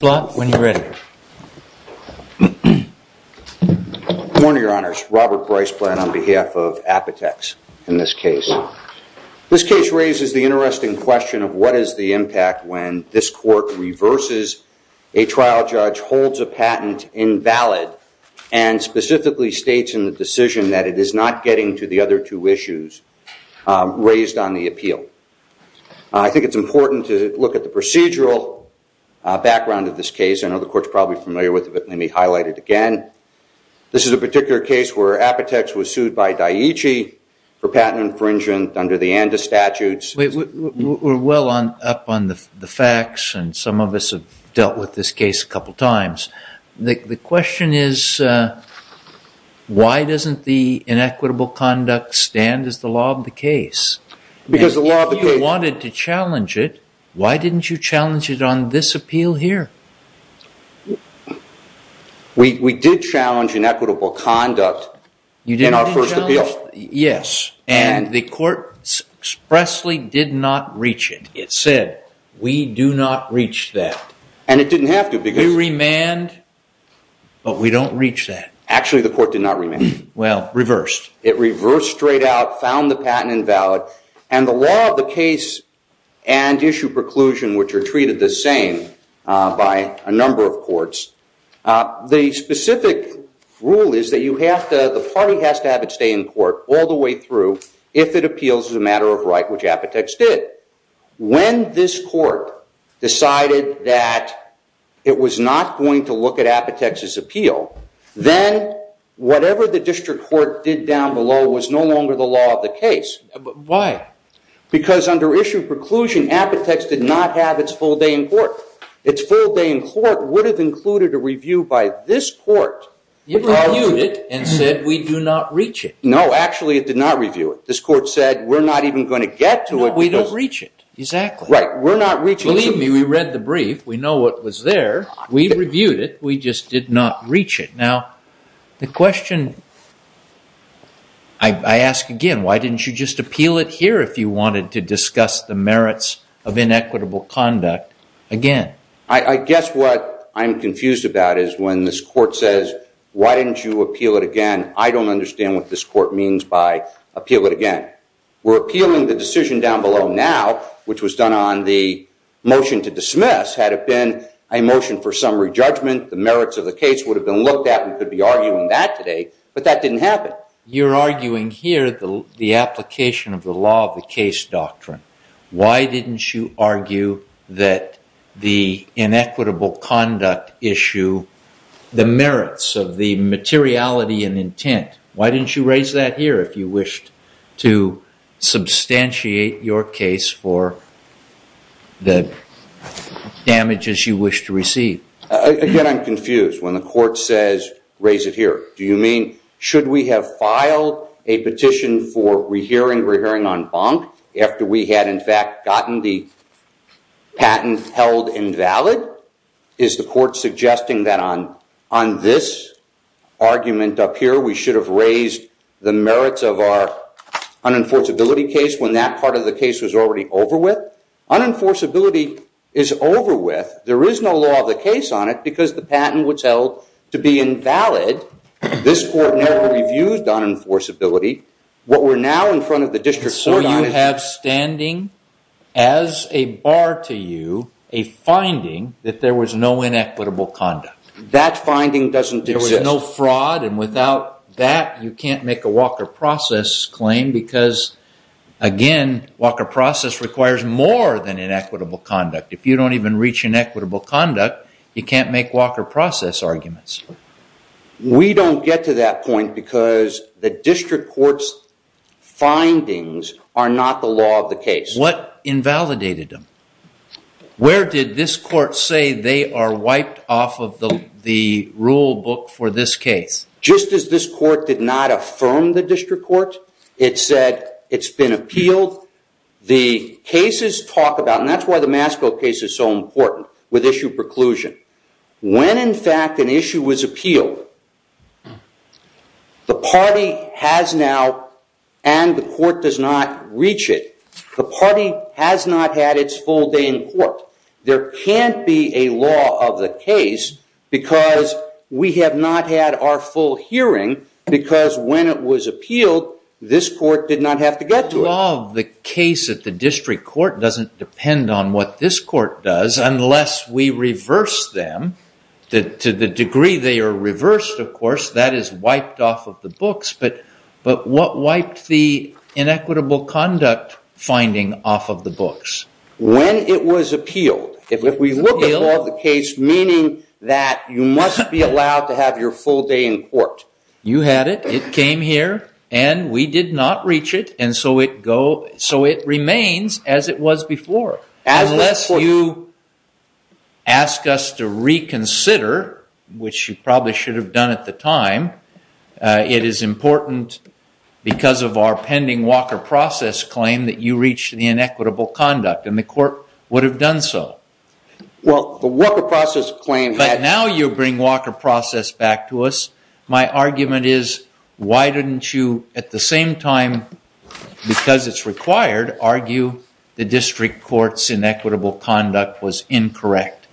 when you're ready. Good morning your honors, Robert Bryce Blatt on behalf of Apotex in this case. This case raises the interesting question of what is the impact when this court reverses a trial judge, holds a patent invalid, and specifically states in the decision that it is not getting to the other two issues raised on the appeal. I think it's important to look at the procedural background of this case. I know the court's probably familiar with it but let me highlight it again. This is a particular case where Apotex was sued by Daiichi for patent infringement under the ANDA statutes. We're well on up on the facts and some of us have dealt with this case a couple times. The question is why doesn't the inequitable conduct stand as the law of the case? Because the wanted to challenge it. Why didn't you challenge it on this appeal here? We did challenge inequitable conduct in our first appeal. Yes and the court expressly did not reach it. It said we do not reach that. And it didn't have to. We remand but we don't reach that. Actually the court did not remand. Well reversed. It reversed straight out, found the patent invalid, and the law of the case and issue preclusion, which are treated the same by a number of courts, the specific rule is that the party has to have it stay in court all the way through if it appeals as a matter of right, which Apotex did. When this court decided that it was not going to look at Apotex's appeal, then whatever the district court did down below was no longer the law of the case. Why? Because under issue preclusion Apotex did not have its full day in court. Its full day in court would have included a review by this court. You reviewed it and said we do not reach it. No actually it did not review it. This court said we're not even going to get to it. We don't reach it. Exactly. Right. We're not reaching. Believe me we read the brief. We know it was there. We reviewed it. We just did not reach it. Now the question I ask again, why didn't you just appeal it here if you wanted to discuss the merits of inequitable conduct again? I guess what I'm confused about is when this court says why didn't you appeal it again, I don't understand what this court means by appeal it again. We're appealing the decision down below now, which was on the motion to dismiss had it been a motion for summary judgment. The merits of the case would have been looked at and could be arguing that today, but that didn't happen. You're arguing here the application of the law of the case doctrine. Why didn't you argue that the inequitable conduct issue, the merits of the materiality and intent, why didn't you raise that here if you the damages you wish to receive? Again, I'm confused when the court says raise it here. Do you mean should we have filed a petition for rehearing on bonk after we had in fact gotten the patent held invalid? Is the court suggesting that on this argument up here we should have raised the merits of our unenforceability case when that part of the case was already over with? Unenforceability is over with. There is no law of the case on it because the patent was held to be invalid. This court never reviewed unenforceability. What we're now in front of the district court on is- So you have standing as a bar to you a finding that there was no inequitable conduct. That finding doesn't exist. There was no fraud and without that you can't make a Walker process claim because again, Walker process requires more than inequitable conduct. If you don't even reach inequitable conduct, you can't make Walker process arguments. We don't get to that point because the district court's findings are not the law of the case. What invalidated them? Where did this court say they are wiped off of the rule book for this case? Just as this court did not affirm the district court, it said it's been appealed. The cases talk about, and that's why the Masco case is so important with issue preclusion. When in fact an issue was appealed, the party has now and the court does not reach it. The party has not had its full day in court. There can't be a law of the case because we have not had our full hearing because when it was appealed, this court did not have to get to it. The law of the case at the district court doesn't depend on what this court does unless we reverse them. To the degree they are reversed, of course, that is wiped off of the books, but what wiped the inequitable conduct finding off of the books? When it was appealed, if we look at the law of the case, meaning that you must be allowed to have your full day in court. You had it, it came here, and we did not reach it, and so it remains as it was before. Unless you ask us to reconsider, which you probably should have done at the time, it is important because of our pending Walker process claim that you reach the inequitable conduct, and the court would have done so. But now you bring Walker process back to us. My argument is, why didn't you at the same time, because it's required, argue the district court's inequitable conduct was incorrect?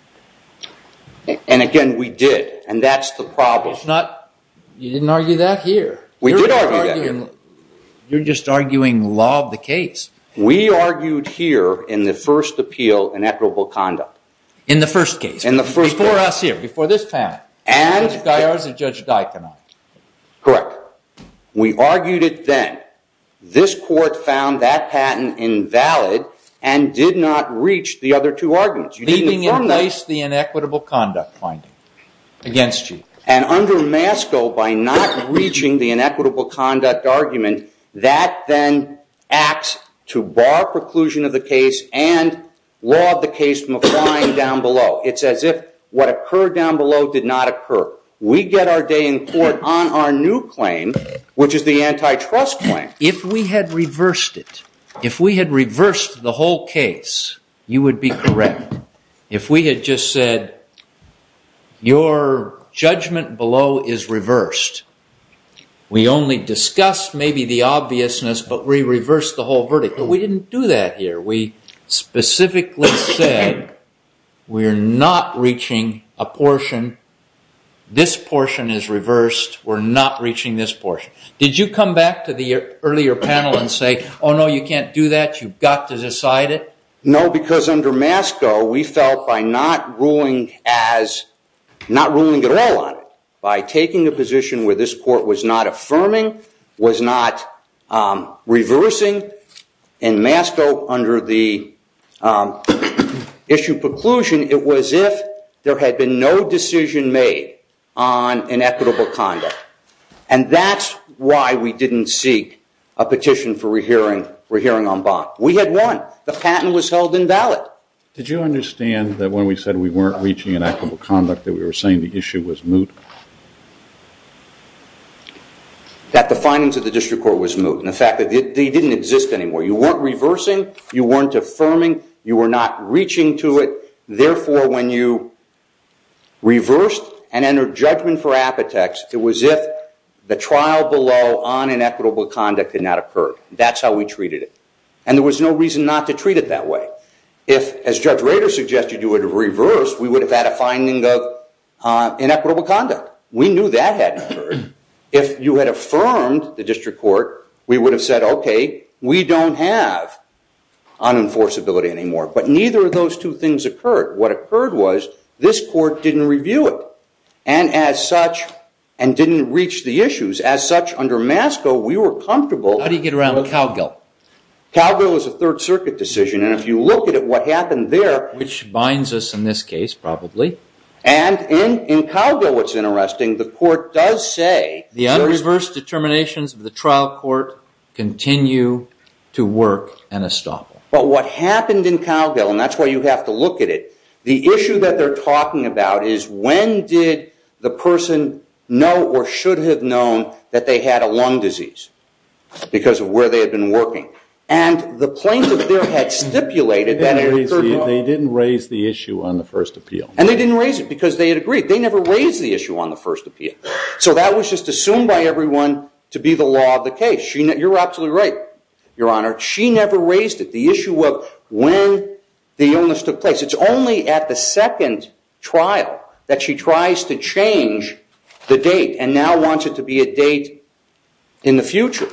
And again, we did, and that's the problem. You didn't argue that here. We did argue that here. You're just arguing law of the case. We argued here in the first appeal, inequitable conduct. In the first case. In the first case. Before us here, before this patent. And. Judge Dyer's and Judge Deikin on it. Correct. We argued it then. This court found that patent invalid, and did not reach the other two arguments. Leaving in place the inequitable conduct finding. Against you. And under MASCO, by not reaching the inequitable conduct argument, that then acts to bar preclusion of the case and law of the case from applying down below. It's as if what occurred down below did not occur. We get our day in court on our new claim, which is the antitrust claim. If we had reversed it, if we had reversed the whole case, you would be correct. If we had just said, your judgment below is reversed. We only discussed maybe the obviousness, but we reversed the whole verdict. But we didn't do that here. We specifically said, we're not reaching a portion. This portion is reversed. We're not reaching this portion. Did you come back to the earlier panel and say, oh, no, you can't do that. You've got to decide it? No, because under MASCO, we felt by not ruling at all on it, by taking a position where this court was not affirming, was not reversing. In MASCO, under the issue preclusion, it was if there had been no decision made on inequitable conduct. And that's we didn't seek a petition for rehearing en banc. We had won. The patent was held invalid. Did you understand that when we said we weren't reaching inequitable conduct, that we were saying the issue was moot? That the findings of the district court was moot. And the fact that they didn't exist anymore. You weren't reversing. You weren't affirming. You were not reaching to it. Therefore, when you on inequitable conduct did not occur. That's how we treated it. And there was no reason not to treat it that way. If, as Judge Rader suggested, you would reverse, we would have had a finding of inequitable conduct. We knew that hadn't occurred. If you had affirmed the district court, we would have said, OK, we don't have unenforceability anymore. But neither of those two things occurred. What occurred was this court didn't review it. And as such, and didn't reach the we were comfortable. How do you get around Calgill? Calgill is a third circuit decision. And if you look at what happened there. Which binds us in this case, probably. And in Calgill, what's interesting, the court does say. The un-reversed determinations of the trial court continue to work and estoppel. But what happened in Calgill, and that's why you have to look at it. The issue that they're And the plaintiff there had stipulated that it occurred wrong. They didn't raise the issue on the first appeal. And they didn't raise it because they had agreed. They never raised the issue on the first appeal. So that was just assumed by everyone to be the law of the case. You're absolutely right, Your Honor. She never raised it. The issue of when the illness took place. It's only at the second trial that she tries to change the date and now wants it to be a date in the future.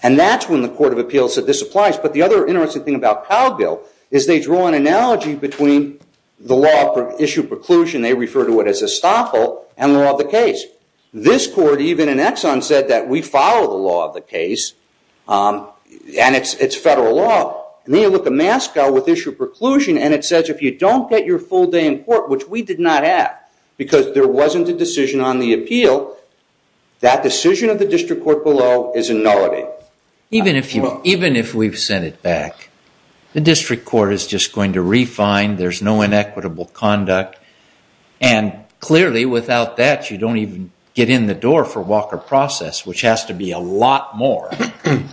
And that's when the Court of Appeals said this applies. But the other interesting thing about Calgill is they draw an analogy between the law of issue preclusion, they refer to it as estoppel, and the law of the case. This court, even in Exxon, said that we follow the law of the case. And it's federal law. And then you look at Mascow with issue preclusion and it says if you don't get your full day in court, which we did not have because there wasn't a decision on the appeal, that decision of the district court below is a nullity. Even if we've sent it back, the district court is just going to refine. There's no inequitable conduct. And clearly, without that, you don't even get in the door for Walker process, which has to be a lot more.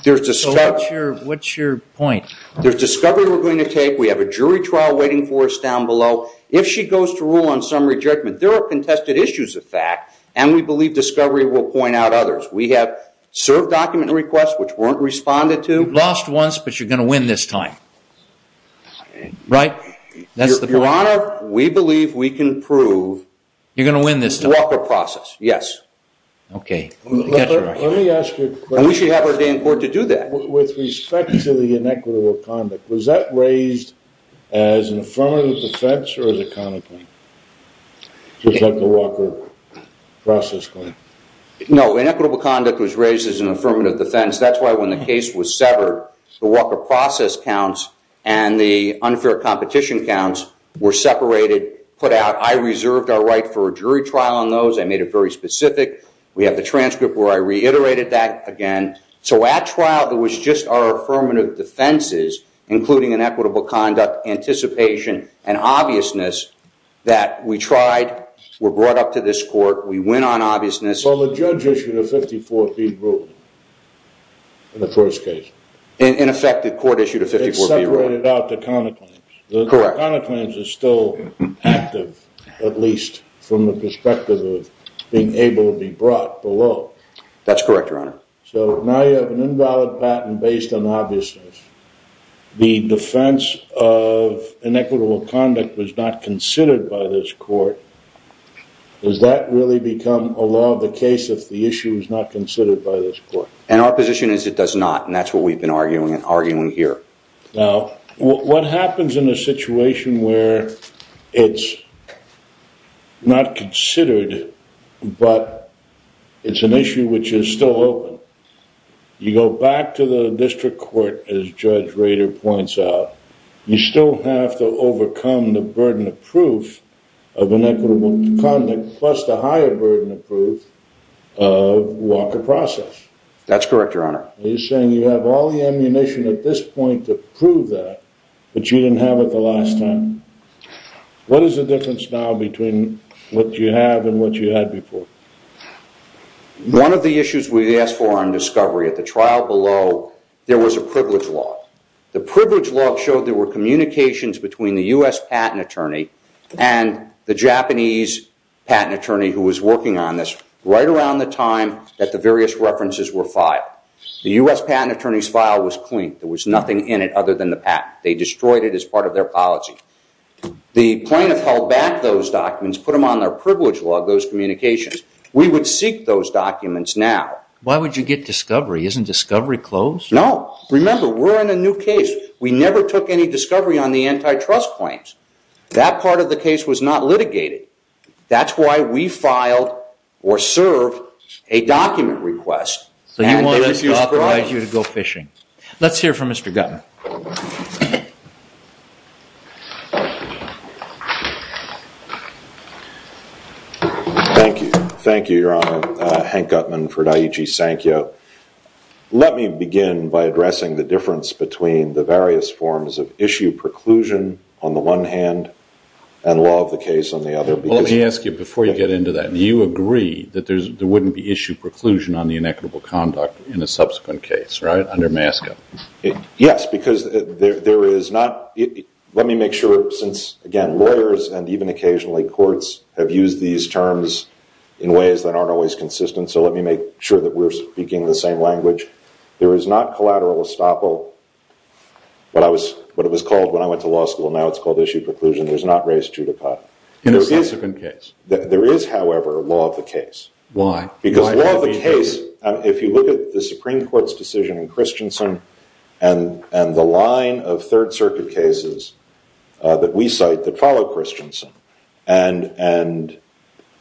What's your point? There's discovery we're going to take. We have a jury trial waiting for us down below. If she goes to rule on some rejectment, there are contested issues of fact, and we believe discovery will point out others. We have served document requests, which weren't responded to. You've lost once, but you're going to win this time. Right? That's the point. Your Honor, we believe we can prove Walker process. Yes. OK. Let me ask you a question. And we should have our day in court to do that. With respect to the inequitable conduct, was that raised as an affirmative defense or as a counterpoint? Was that the Walker process claim? No, inequitable conduct was raised as an affirmative defense. That's why when the case was severed, the Walker process counts and the unfair competition counts were separated, put out. I reserved our right for a jury trial on those. I made it very specific. We have the transcript where I reiterated that again. So at trial, there was just our affirmative defenses, including inequitable conduct, anticipation, and obviousness that we tried. We're brought up to this court. We went on obviousness. Well, the judge issued a 54B ruling in the first case. In effect, the court issued a 54B ruling. It separated out the counterclaims. Correct. The counterclaims are still active, at least from the perspective of being able to be brought below. That's correct, Your Honor. So now you have an invalid patent based on obviousness. The defense of inequitable conduct was not considered by this court. Does that really become a law of the case if the issue is not considered by this court? Our position is it does not, and that's what we've been arguing here. Now, what happens in a situation where it's not considered, but it's an issue which is still open? You go back to the district court, as Judge Rader points out, you still have to overcome the burden of proof of inequitable conduct, plus the higher burden of proof of Walker process. That's correct, Your Honor. You're saying you have all the ammunition at this point to prove that, but you didn't have it the last time. What is the difference now between what you have and what you had before? One of the issues we asked for on discovery at the trial below, there was a privilege law. The privilege law showed there were communications between the U.S. patent attorney and the Japanese patent attorney who was working on this right around the time that the various references were filed. The U.S. patent attorney's file was clean. There was nothing in it other than the patent. They destroyed it as part of their policy. The plaintiff held back those documents, put them on their privilege law, those communications. We would seek those documents now. Why would you get discovery? Isn't discovery closed? No. Remember, we're in a new case. We never took any discovery on the antitrust claims. That part of the case was not litigated. That's why we filed or served a document request. You want us to authorize you to go fishing. Let's hear from Mr. Gutman. Thank you. Thank you, Your Honor. Hank Gutman for Daiichi Sankyo. Let me begin by addressing the difference between the various forms of issue preclusion on the one hand and law of the case on the other. Let me ask you before you get into that. Do you conduct in a subsequent case under MASCA? Yes. Let me make sure since lawyers and even occasionally courts have used these terms in ways that aren't always consistent. Let me make sure that we're speaking the same language. There is not collateral estoppel. What it was called when I went to law school, now it's called issue preclusion. There's not race judicata. In a subsequent case. There is, however, law of the case. Why? Because law of the case, if you look at the Supreme Court's decision in Christensen and the line of Third Circuit cases that we cite that follow Christensen, and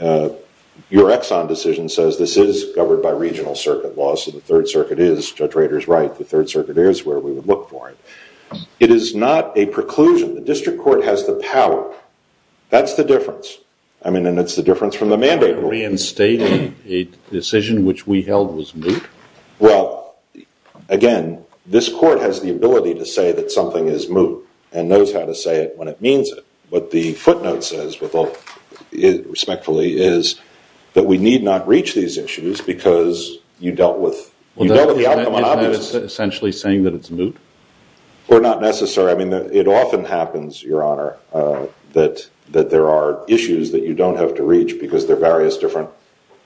your Exxon decision says this is governed by regional circuit laws, so the Third Circuit is, Judge Rader's right, the Third Circuit is where we would look for it. It is not a preclusion. The district court has the power. That's the difference. I mean, and it's the difference from the mandate rule. Reinstating a decision which we held was moot? Well, again, this court has the ability to say that something is moot and knows how to say it when it means it. What the footnote says respectfully is that we need not reach these issues because you dealt with the outcome on obvious. Essentially saying that it's moot? Or not necessary. I mean, it often happens, Your Honor, that there are issues that you don't have to reach because they're various different.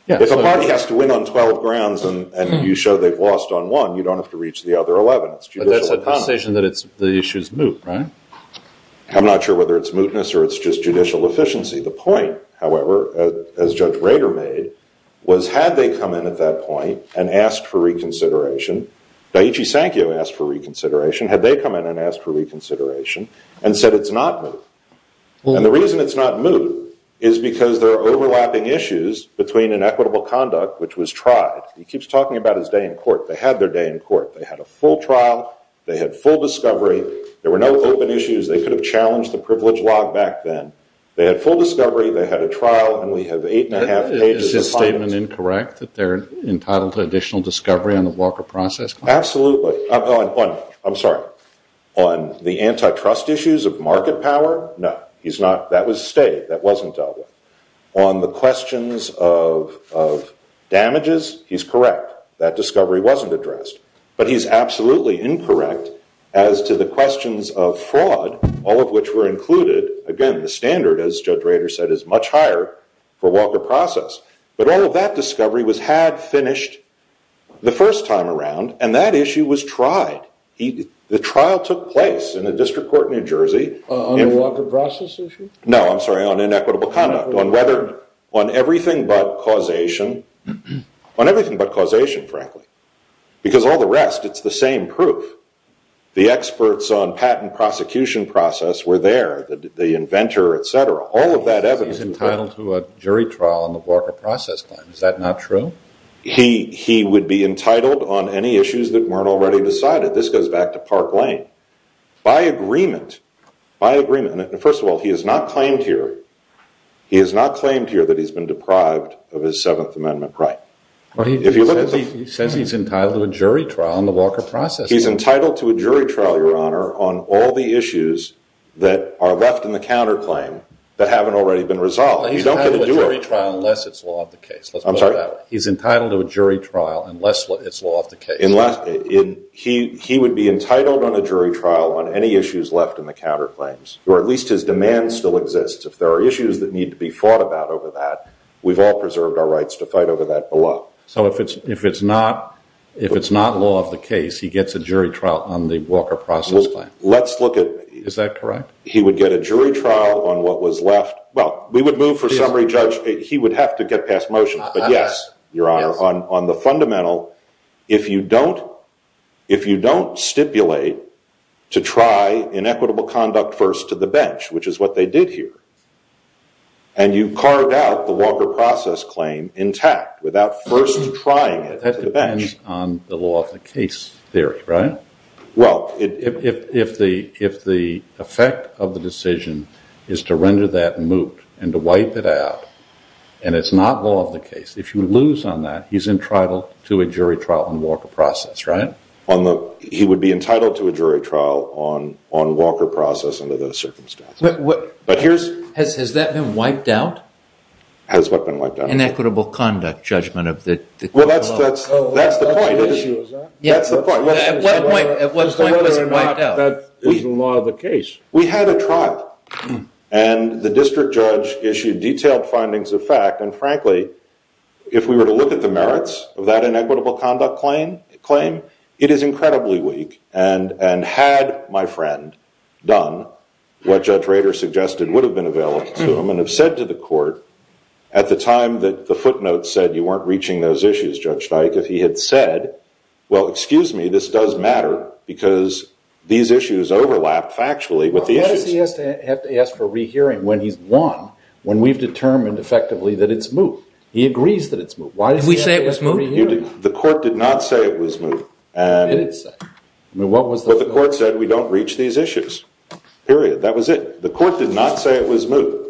If a party has to win on 12 grounds and you show they've lost on one, you don't have to reach the other 11. But that's a position that the issue is moot, right? I'm not sure whether it's mootness or it's just judicial efficiency. The point, however, as Judge Rader made, was had they come in at that point and asked for reconsideration, Daiichi Sankyo asked for reconsideration. Had they come in and asked for reconsideration and said it's not moot? And the reason it's not moot is because there are overlapping issues between inequitable conduct, which was tried. He keeps talking about his day in court. They had their day in court. They had a full trial. They had full discovery. There were no open issues. They could have challenged the privilege log back then. They had full discovery. They had a trial, and we have eight and a half pages of files. Is his statement incorrect that they're entitled to additional discovery on the Walker process? Absolutely. I'm sorry. On the antitrust issues of market power, no. That was stayed. That wasn't dealt with. On the questions of damages, he's correct. That discovery wasn't addressed. But he's absolutely incorrect as to the questions of fraud, all of which were included. Again, the standard, as Judge Rader said, is much higher for Walker process. But all of that discovery was had finished the first time around, and that issue was tried. The trial took place in a district court in New Jersey. On the Walker process issue? No, I'm sorry. On inequitable conduct. On everything but causation. On everything but causation, frankly. Because all the rest, it's the same proof. The experts on patent prosecution process were there. The inventor, et cetera. All of that evidence. He's entitled to a jury trial on the Walker process. Is that not true? He would be entitled on any issues that weren't already decided. This goes back to Park Lane. By agreement, by agreement. First of all, he has not claimed here that he's been deprived of his Seventh Amendment right. He says he's entitled to a jury trial on the Walker process. He's entitled to a jury trial, Your Honor, on all the issues that are left in counterclaim that haven't already been resolved. You don't get to do it. He's entitled to a jury trial unless it's law of the case. He would be entitled on a jury trial on any issues left in the counterclaims. Or at least his demands still exist. If there are issues that need to be fought about over that, we've all preserved our rights to fight over that below. So if it's not law of the case, he gets a jury trial on the Walker process claim. Let's look at- Is that correct? He would get a jury trial on what was left. Well, we would move for summary judge. He would have to get past motion. But yes, Your Honor, on the fundamental, if you don't stipulate to try inequitable conduct first to the bench, which is what they did here, and you carved out the Walker process claim intact without first trying it to the bench. That depends on the law of the case theory, right? Well, if the effect of the decision is to render that moot and to wipe it out, and it's not law of the case, if you lose on that, he's entitled to a jury trial on Walker process, right? He would be entitled to a jury trial on Walker process under those circumstances. Has that been wiped out? Has what been wiped out? Inequitable conduct judgment of the- Well, that's the point. Oh, that's the issue, is that? That's the point. At what point was it wiped out? Whether or not that isn't law of the case. We had a trial, and the district judge issued detailed findings of fact. And frankly, if we were to look at the merits of that inequitable conduct claim, it is incredibly weak. And had my friend done what Judge Rader suggested would have been available to him and have said to the court at the time that the footnotes said you weren't reaching those issues, Judge Dyke, if he had said, well, excuse me, this does matter because these issues overlap factually with the issues- Why does he have to ask for a rehearing when he's won, when we've determined effectively that it's moot? He agrees that it's moot. Why does he have to ask for a rehearing? Did we say it was moot? The court did not say it was moot. It did say. I mean, what was the- But the court said, we don't reach these issues, period. That was it. The court did not say it was moot.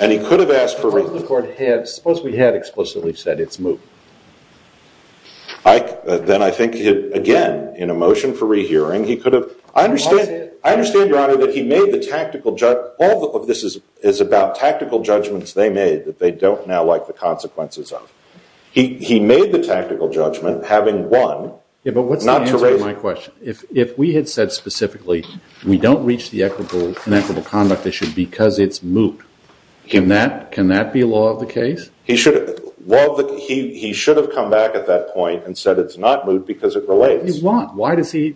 And he could have asked for- Suppose the court had, suppose we had explicitly said it's moot. Then I think he had, again, in a motion for rehearing, he could have- I understand, Your Honor, that he made the tactical judge- All of this is about tactical judgments they made that they don't now like the consequences of. He made the tactical judgment having won- Yeah, but what's the answer to my question? If we had said specifically, we don't reach the inequitable conduct issue because it's moot, can that be law of the case? He should have come back at that point and said it's not moot because it relates. Why? Why does he-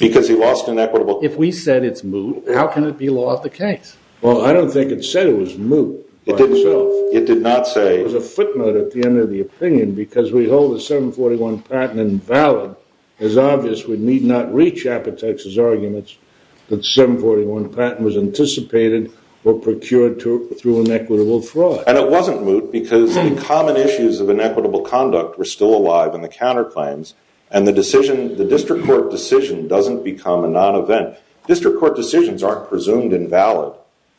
Because he lost an equitable- If we said it's moot, how can it be law of the case? Well, I don't think it said it was moot. It didn't say. It did not say. It was a footnote at the end of the opinion because we hold the 741 patent invalid. It's obvious we need not reach Apotex's arguments that the 741 patent was anticipated or procured through inequitable fraud. It wasn't moot because the common issues of inequitable conduct were still alive in the counterclaims and the district court decision doesn't become a non-event. District court decisions aren't presumed invalid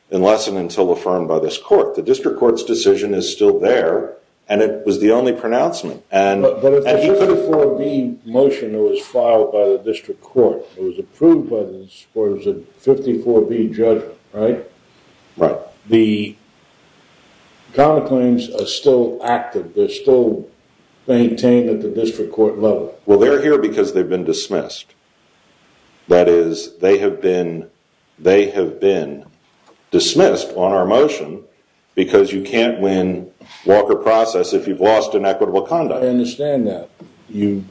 unless and until affirmed by this court. The district court's decision is still there and it was the only pronouncement. But if the 54B motion that was filed by the district court was approved by this court, it was a 54B judgment, right? Right. The counterclaims are still active. They're still maintained at the district court level. Well, they're here because they've been dismissed. That is, they have been dismissed on our motion because you can't win Walker process if you've lost inequitable conduct. I understand that. You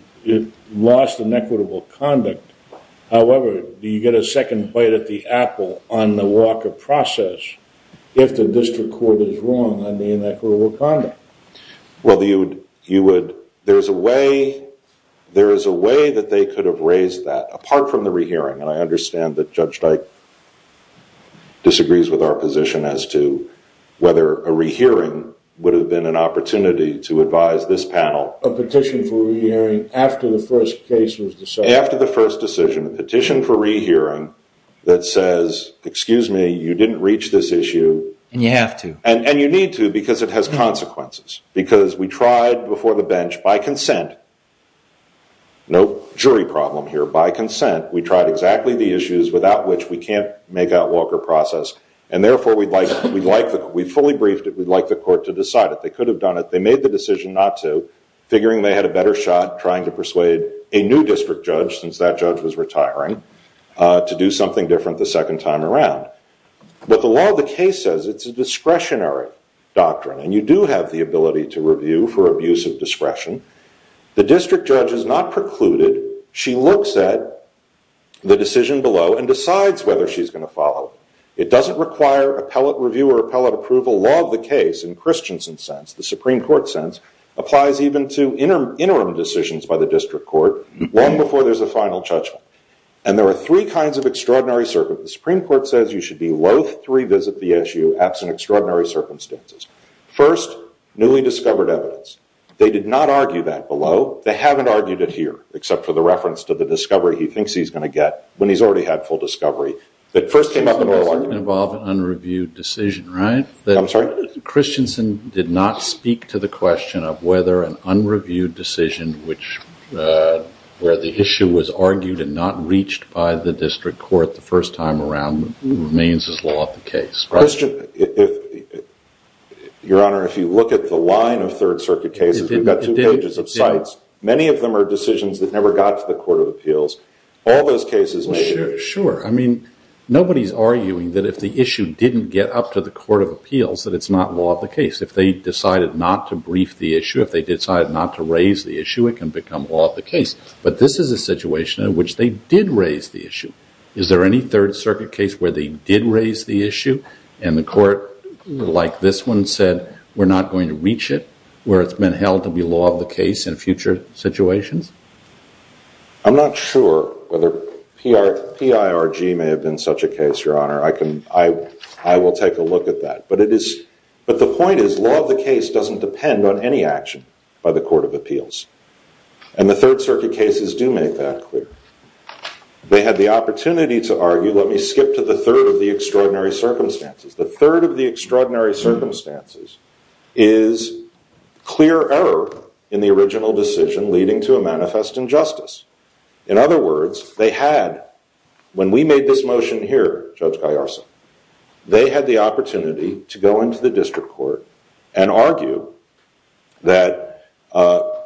lost inequitable conduct. However, do you get a second bite at the apple on the Walker process if the district court is wrong on the inequitable conduct? Well, there is a way that they could have raised that apart from the rehearing. I understand that Judge Dyke disagrees with our position as to whether a rehearing would have been an opportunity to advise this panel. A petition for rehearing after the first case was decided. After the first decision, a petition for rehearing that says, excuse me, you didn't reach this issue. And you have to. And you need to because it has consequences. Because we tried before the bench by consent, no jury problem here, by consent. We tried exactly the issues without which we can't make out Walker process. And therefore, we fully briefed it. We'd like the court to decide it. They could have done it. They made the decision not to, figuring they had a better shot trying to persuade a new district judge, since that judge was retiring, to do something different the second time around. But the law of the case says it's a discretionary doctrine. And you do have the ability to review for abuse of discretion. The district judge is not precluded. She looks at the decision below and decides whether she's going to follow it. It doesn't require appellate review or appellate approval. Law of the case, in Christensen's sense, the Supreme Court sense, applies even to interim decisions by the district court, long before there's a final judgment. And there are three kinds of extraordinary circumstances. The Supreme Court says you should be loath to revisit the issue, absent extraordinary circumstances. First, newly discovered evidence. They did not argue that below. They haven't argued it here, except for the reference to the discovery he thinks he's going to get, when he's already had full discovery. That first came up in oral argument. It involved an unreviewed decision, right? I'm sorry? Christensen did not speak to the question of whether an unreviewed decision, where the issue was argued and not reached by the district court the first time around, remains as law of the case. Christian, Your Honor, if you look at the line of Third Circuit cases, we've got two pages of sites. Many of them are decisions that never got to the Court of Appeals. All those cases made it. Sure. I mean, nobody's arguing that if the issue didn't get up to the Court of Appeals, that it's not law of the case. If they decided not to brief the issue, if they decided not to raise the issue, it can become law of the case. But this is a situation in which they did raise the issue. Is there any Third Circuit case where they did raise the issue, and the court, like this one, said, we're not going to reach it, where it's been held to be law of the case in future situations? I'm not sure whether PIRG may have been such a case, Your Honor. I will take a look at that. But the point is, law of the case doesn't depend on any action by the Court of Appeals. Let me skip to the third of the extraordinary circumstances. The third of the extraordinary circumstances is clear error in the original decision leading to a manifest injustice. In other words, they had, when we made this motion here, Judge Gaiarsa, they had the opportunity to go into the district court and argue that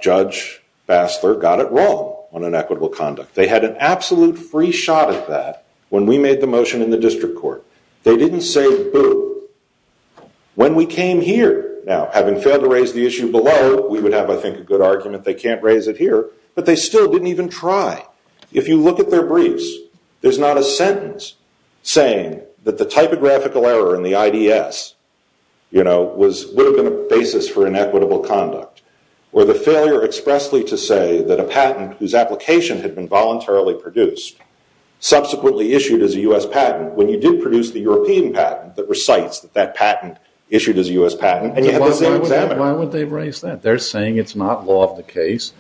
Judge Bassler got it wrong on inequitable conduct. They had an absolute free shot at that when we made the motion in the district court. They didn't say, boo. When we came here, now, having failed to raise the issue below, we would have, I think, a good argument they can't raise it here. But they still didn't even try. If you look at their briefs, there's not a sentence saying that the typographical error in the IDS would have been a basis for inequitable conduct, or the failure expressly to say that a patent whose application had been voluntarily produced, subsequently issued as a US patent, when you did produce the European patent that recites that patent issued as a US patent, and you had the same examiner. Why would they raise that? They're saying it's not law of the case.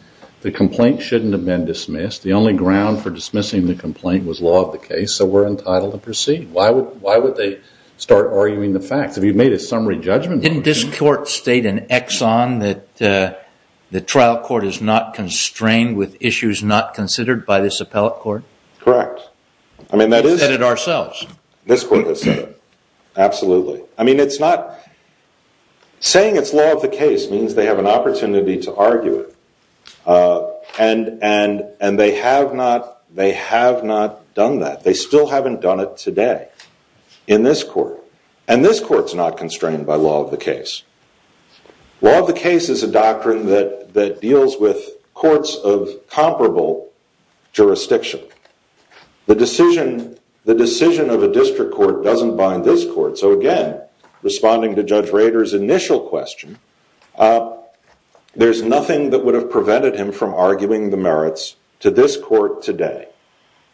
The complaint shouldn't have been dismissed. The only ground for dismissing the complaint was law of the case. So we're entitled to proceed. Why would they start arguing the facts? Have you made a summary judgment? Didn't this court state in Exxon that the trial court is not constrained with issues not considered by this appellate court? Correct. I mean, that is- We said it ourselves. This court has said it. Absolutely. I mean, it's not saying it's law of the case means they have an opportunity to argue it. And they have not done that. They still haven't done it today in this court. And this court's not constrained by law of the case. Law of the case is a doctrine that deals with courts of comparable jurisdiction. The decision of a district court doesn't bind this court. So again, responding to Judge Rader's initial question, there's nothing that would have prevented him from arguing the merits to this court today.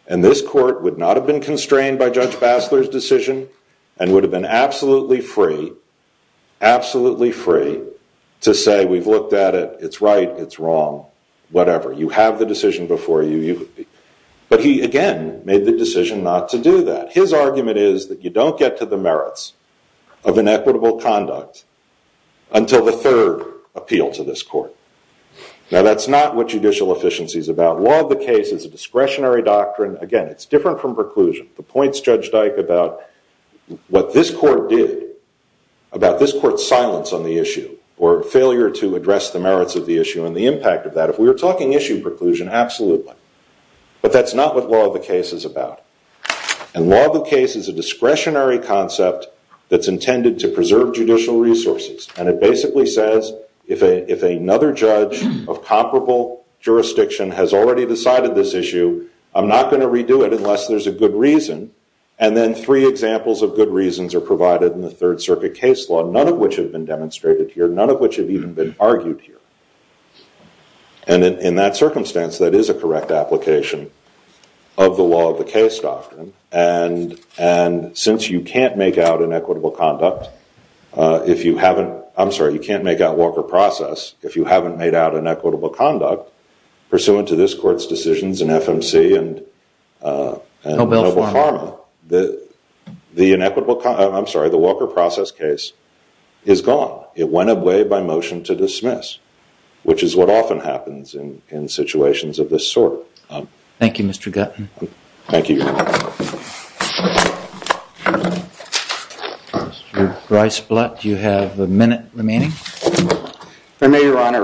And this court would not have been constrained by Judge Bassler's decision and would have been absolutely free to say, we've looked at it. It's right. It's wrong. Whatever. You have the decision before you. But he, again, made the decision not to do that. His argument is that you don't get to the merits of inequitable conduct until the third appeal to this court. Now, that's not what judicial efficiency is about. Law of the case is a discretionary doctrine. Again, it's different from preclusion. The points Judge Dyke about what this court did, about this court's silence on the issue or failure to address the merits of the issue and the impact of that. If we were talking issue preclusion, absolutely. But that's not what law of the case is about. And law of the case is a discretionary concept that's intended to preserve judicial resources. And it basically says, if another judge of comparable jurisdiction has already decided this issue, I'm not going to redo it unless there's a good reason. And then three examples of good reasons are provided in the Third Circuit case law, none of which have been demonstrated here, none of which have even been argued here. And in that circumstance, that is a correct application of the law of the case doctrine. And since you can't make out inequitable conduct, if you haven't, I'm sorry, you can't make out Walker process if you haven't made out inequitable conduct, pursuant to this court's decisions in FMC and Noble Pharma, I'm sorry, the Walker process case is gone. It went away by motion to dismiss, which is what often happens in situations of this sort. Thank you, Mr. Gutton. Thank you. Mr. Bryce Blatt, you have a minute remaining. If I may, Your Honor,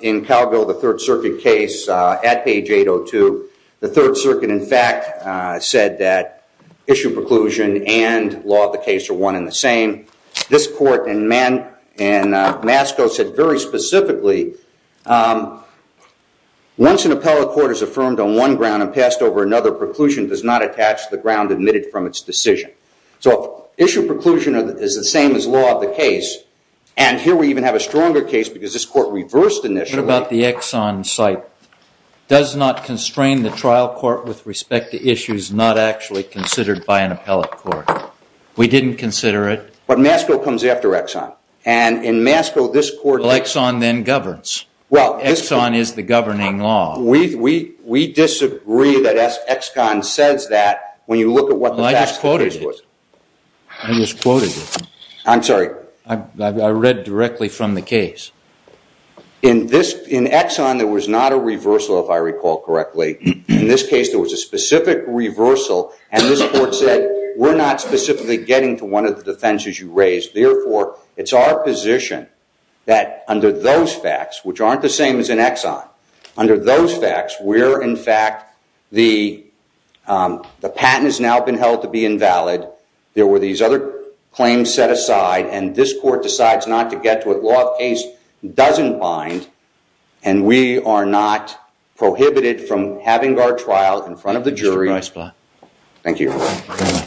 in Calville, the Third Circuit case at page 802, the Third Circuit, in fact, said that issue preclusion and law of the case are one and the same. This court in Masco said very specifically, once an appellate court is affirmed on one ground and passed over another, preclusion does not attach to the ground admitted from its decision. So issue preclusion is the same as law of the case. And here we even have a stronger case, because this court reversed initially. What about the Exxon site? Does not constrain the trial court with respect to issues not actually considered by an appellate court? We didn't consider it. But Masco comes after Exxon. And in Masco, this court- Well, Exxon then governs. Exxon is the governing law. We disagree that Exxon says that when you look at what the facts- I just quoted it. I'm sorry. I read directly from the case. In Exxon, there was not a reversal, if I recall correctly. In this case, there was a specific reversal. And this court said, we're not specifically getting to one of the defenses you raised. Therefore, it's our position that under those facts, which aren't the same as in Exxon, under those facts, where, in fact, the patent has now been held to be invalid, there were these other claims set aside, and this court decides not to get to a law of case that doesn't bind, and we are not prohibited from having our trial in front of the jury. Thank you.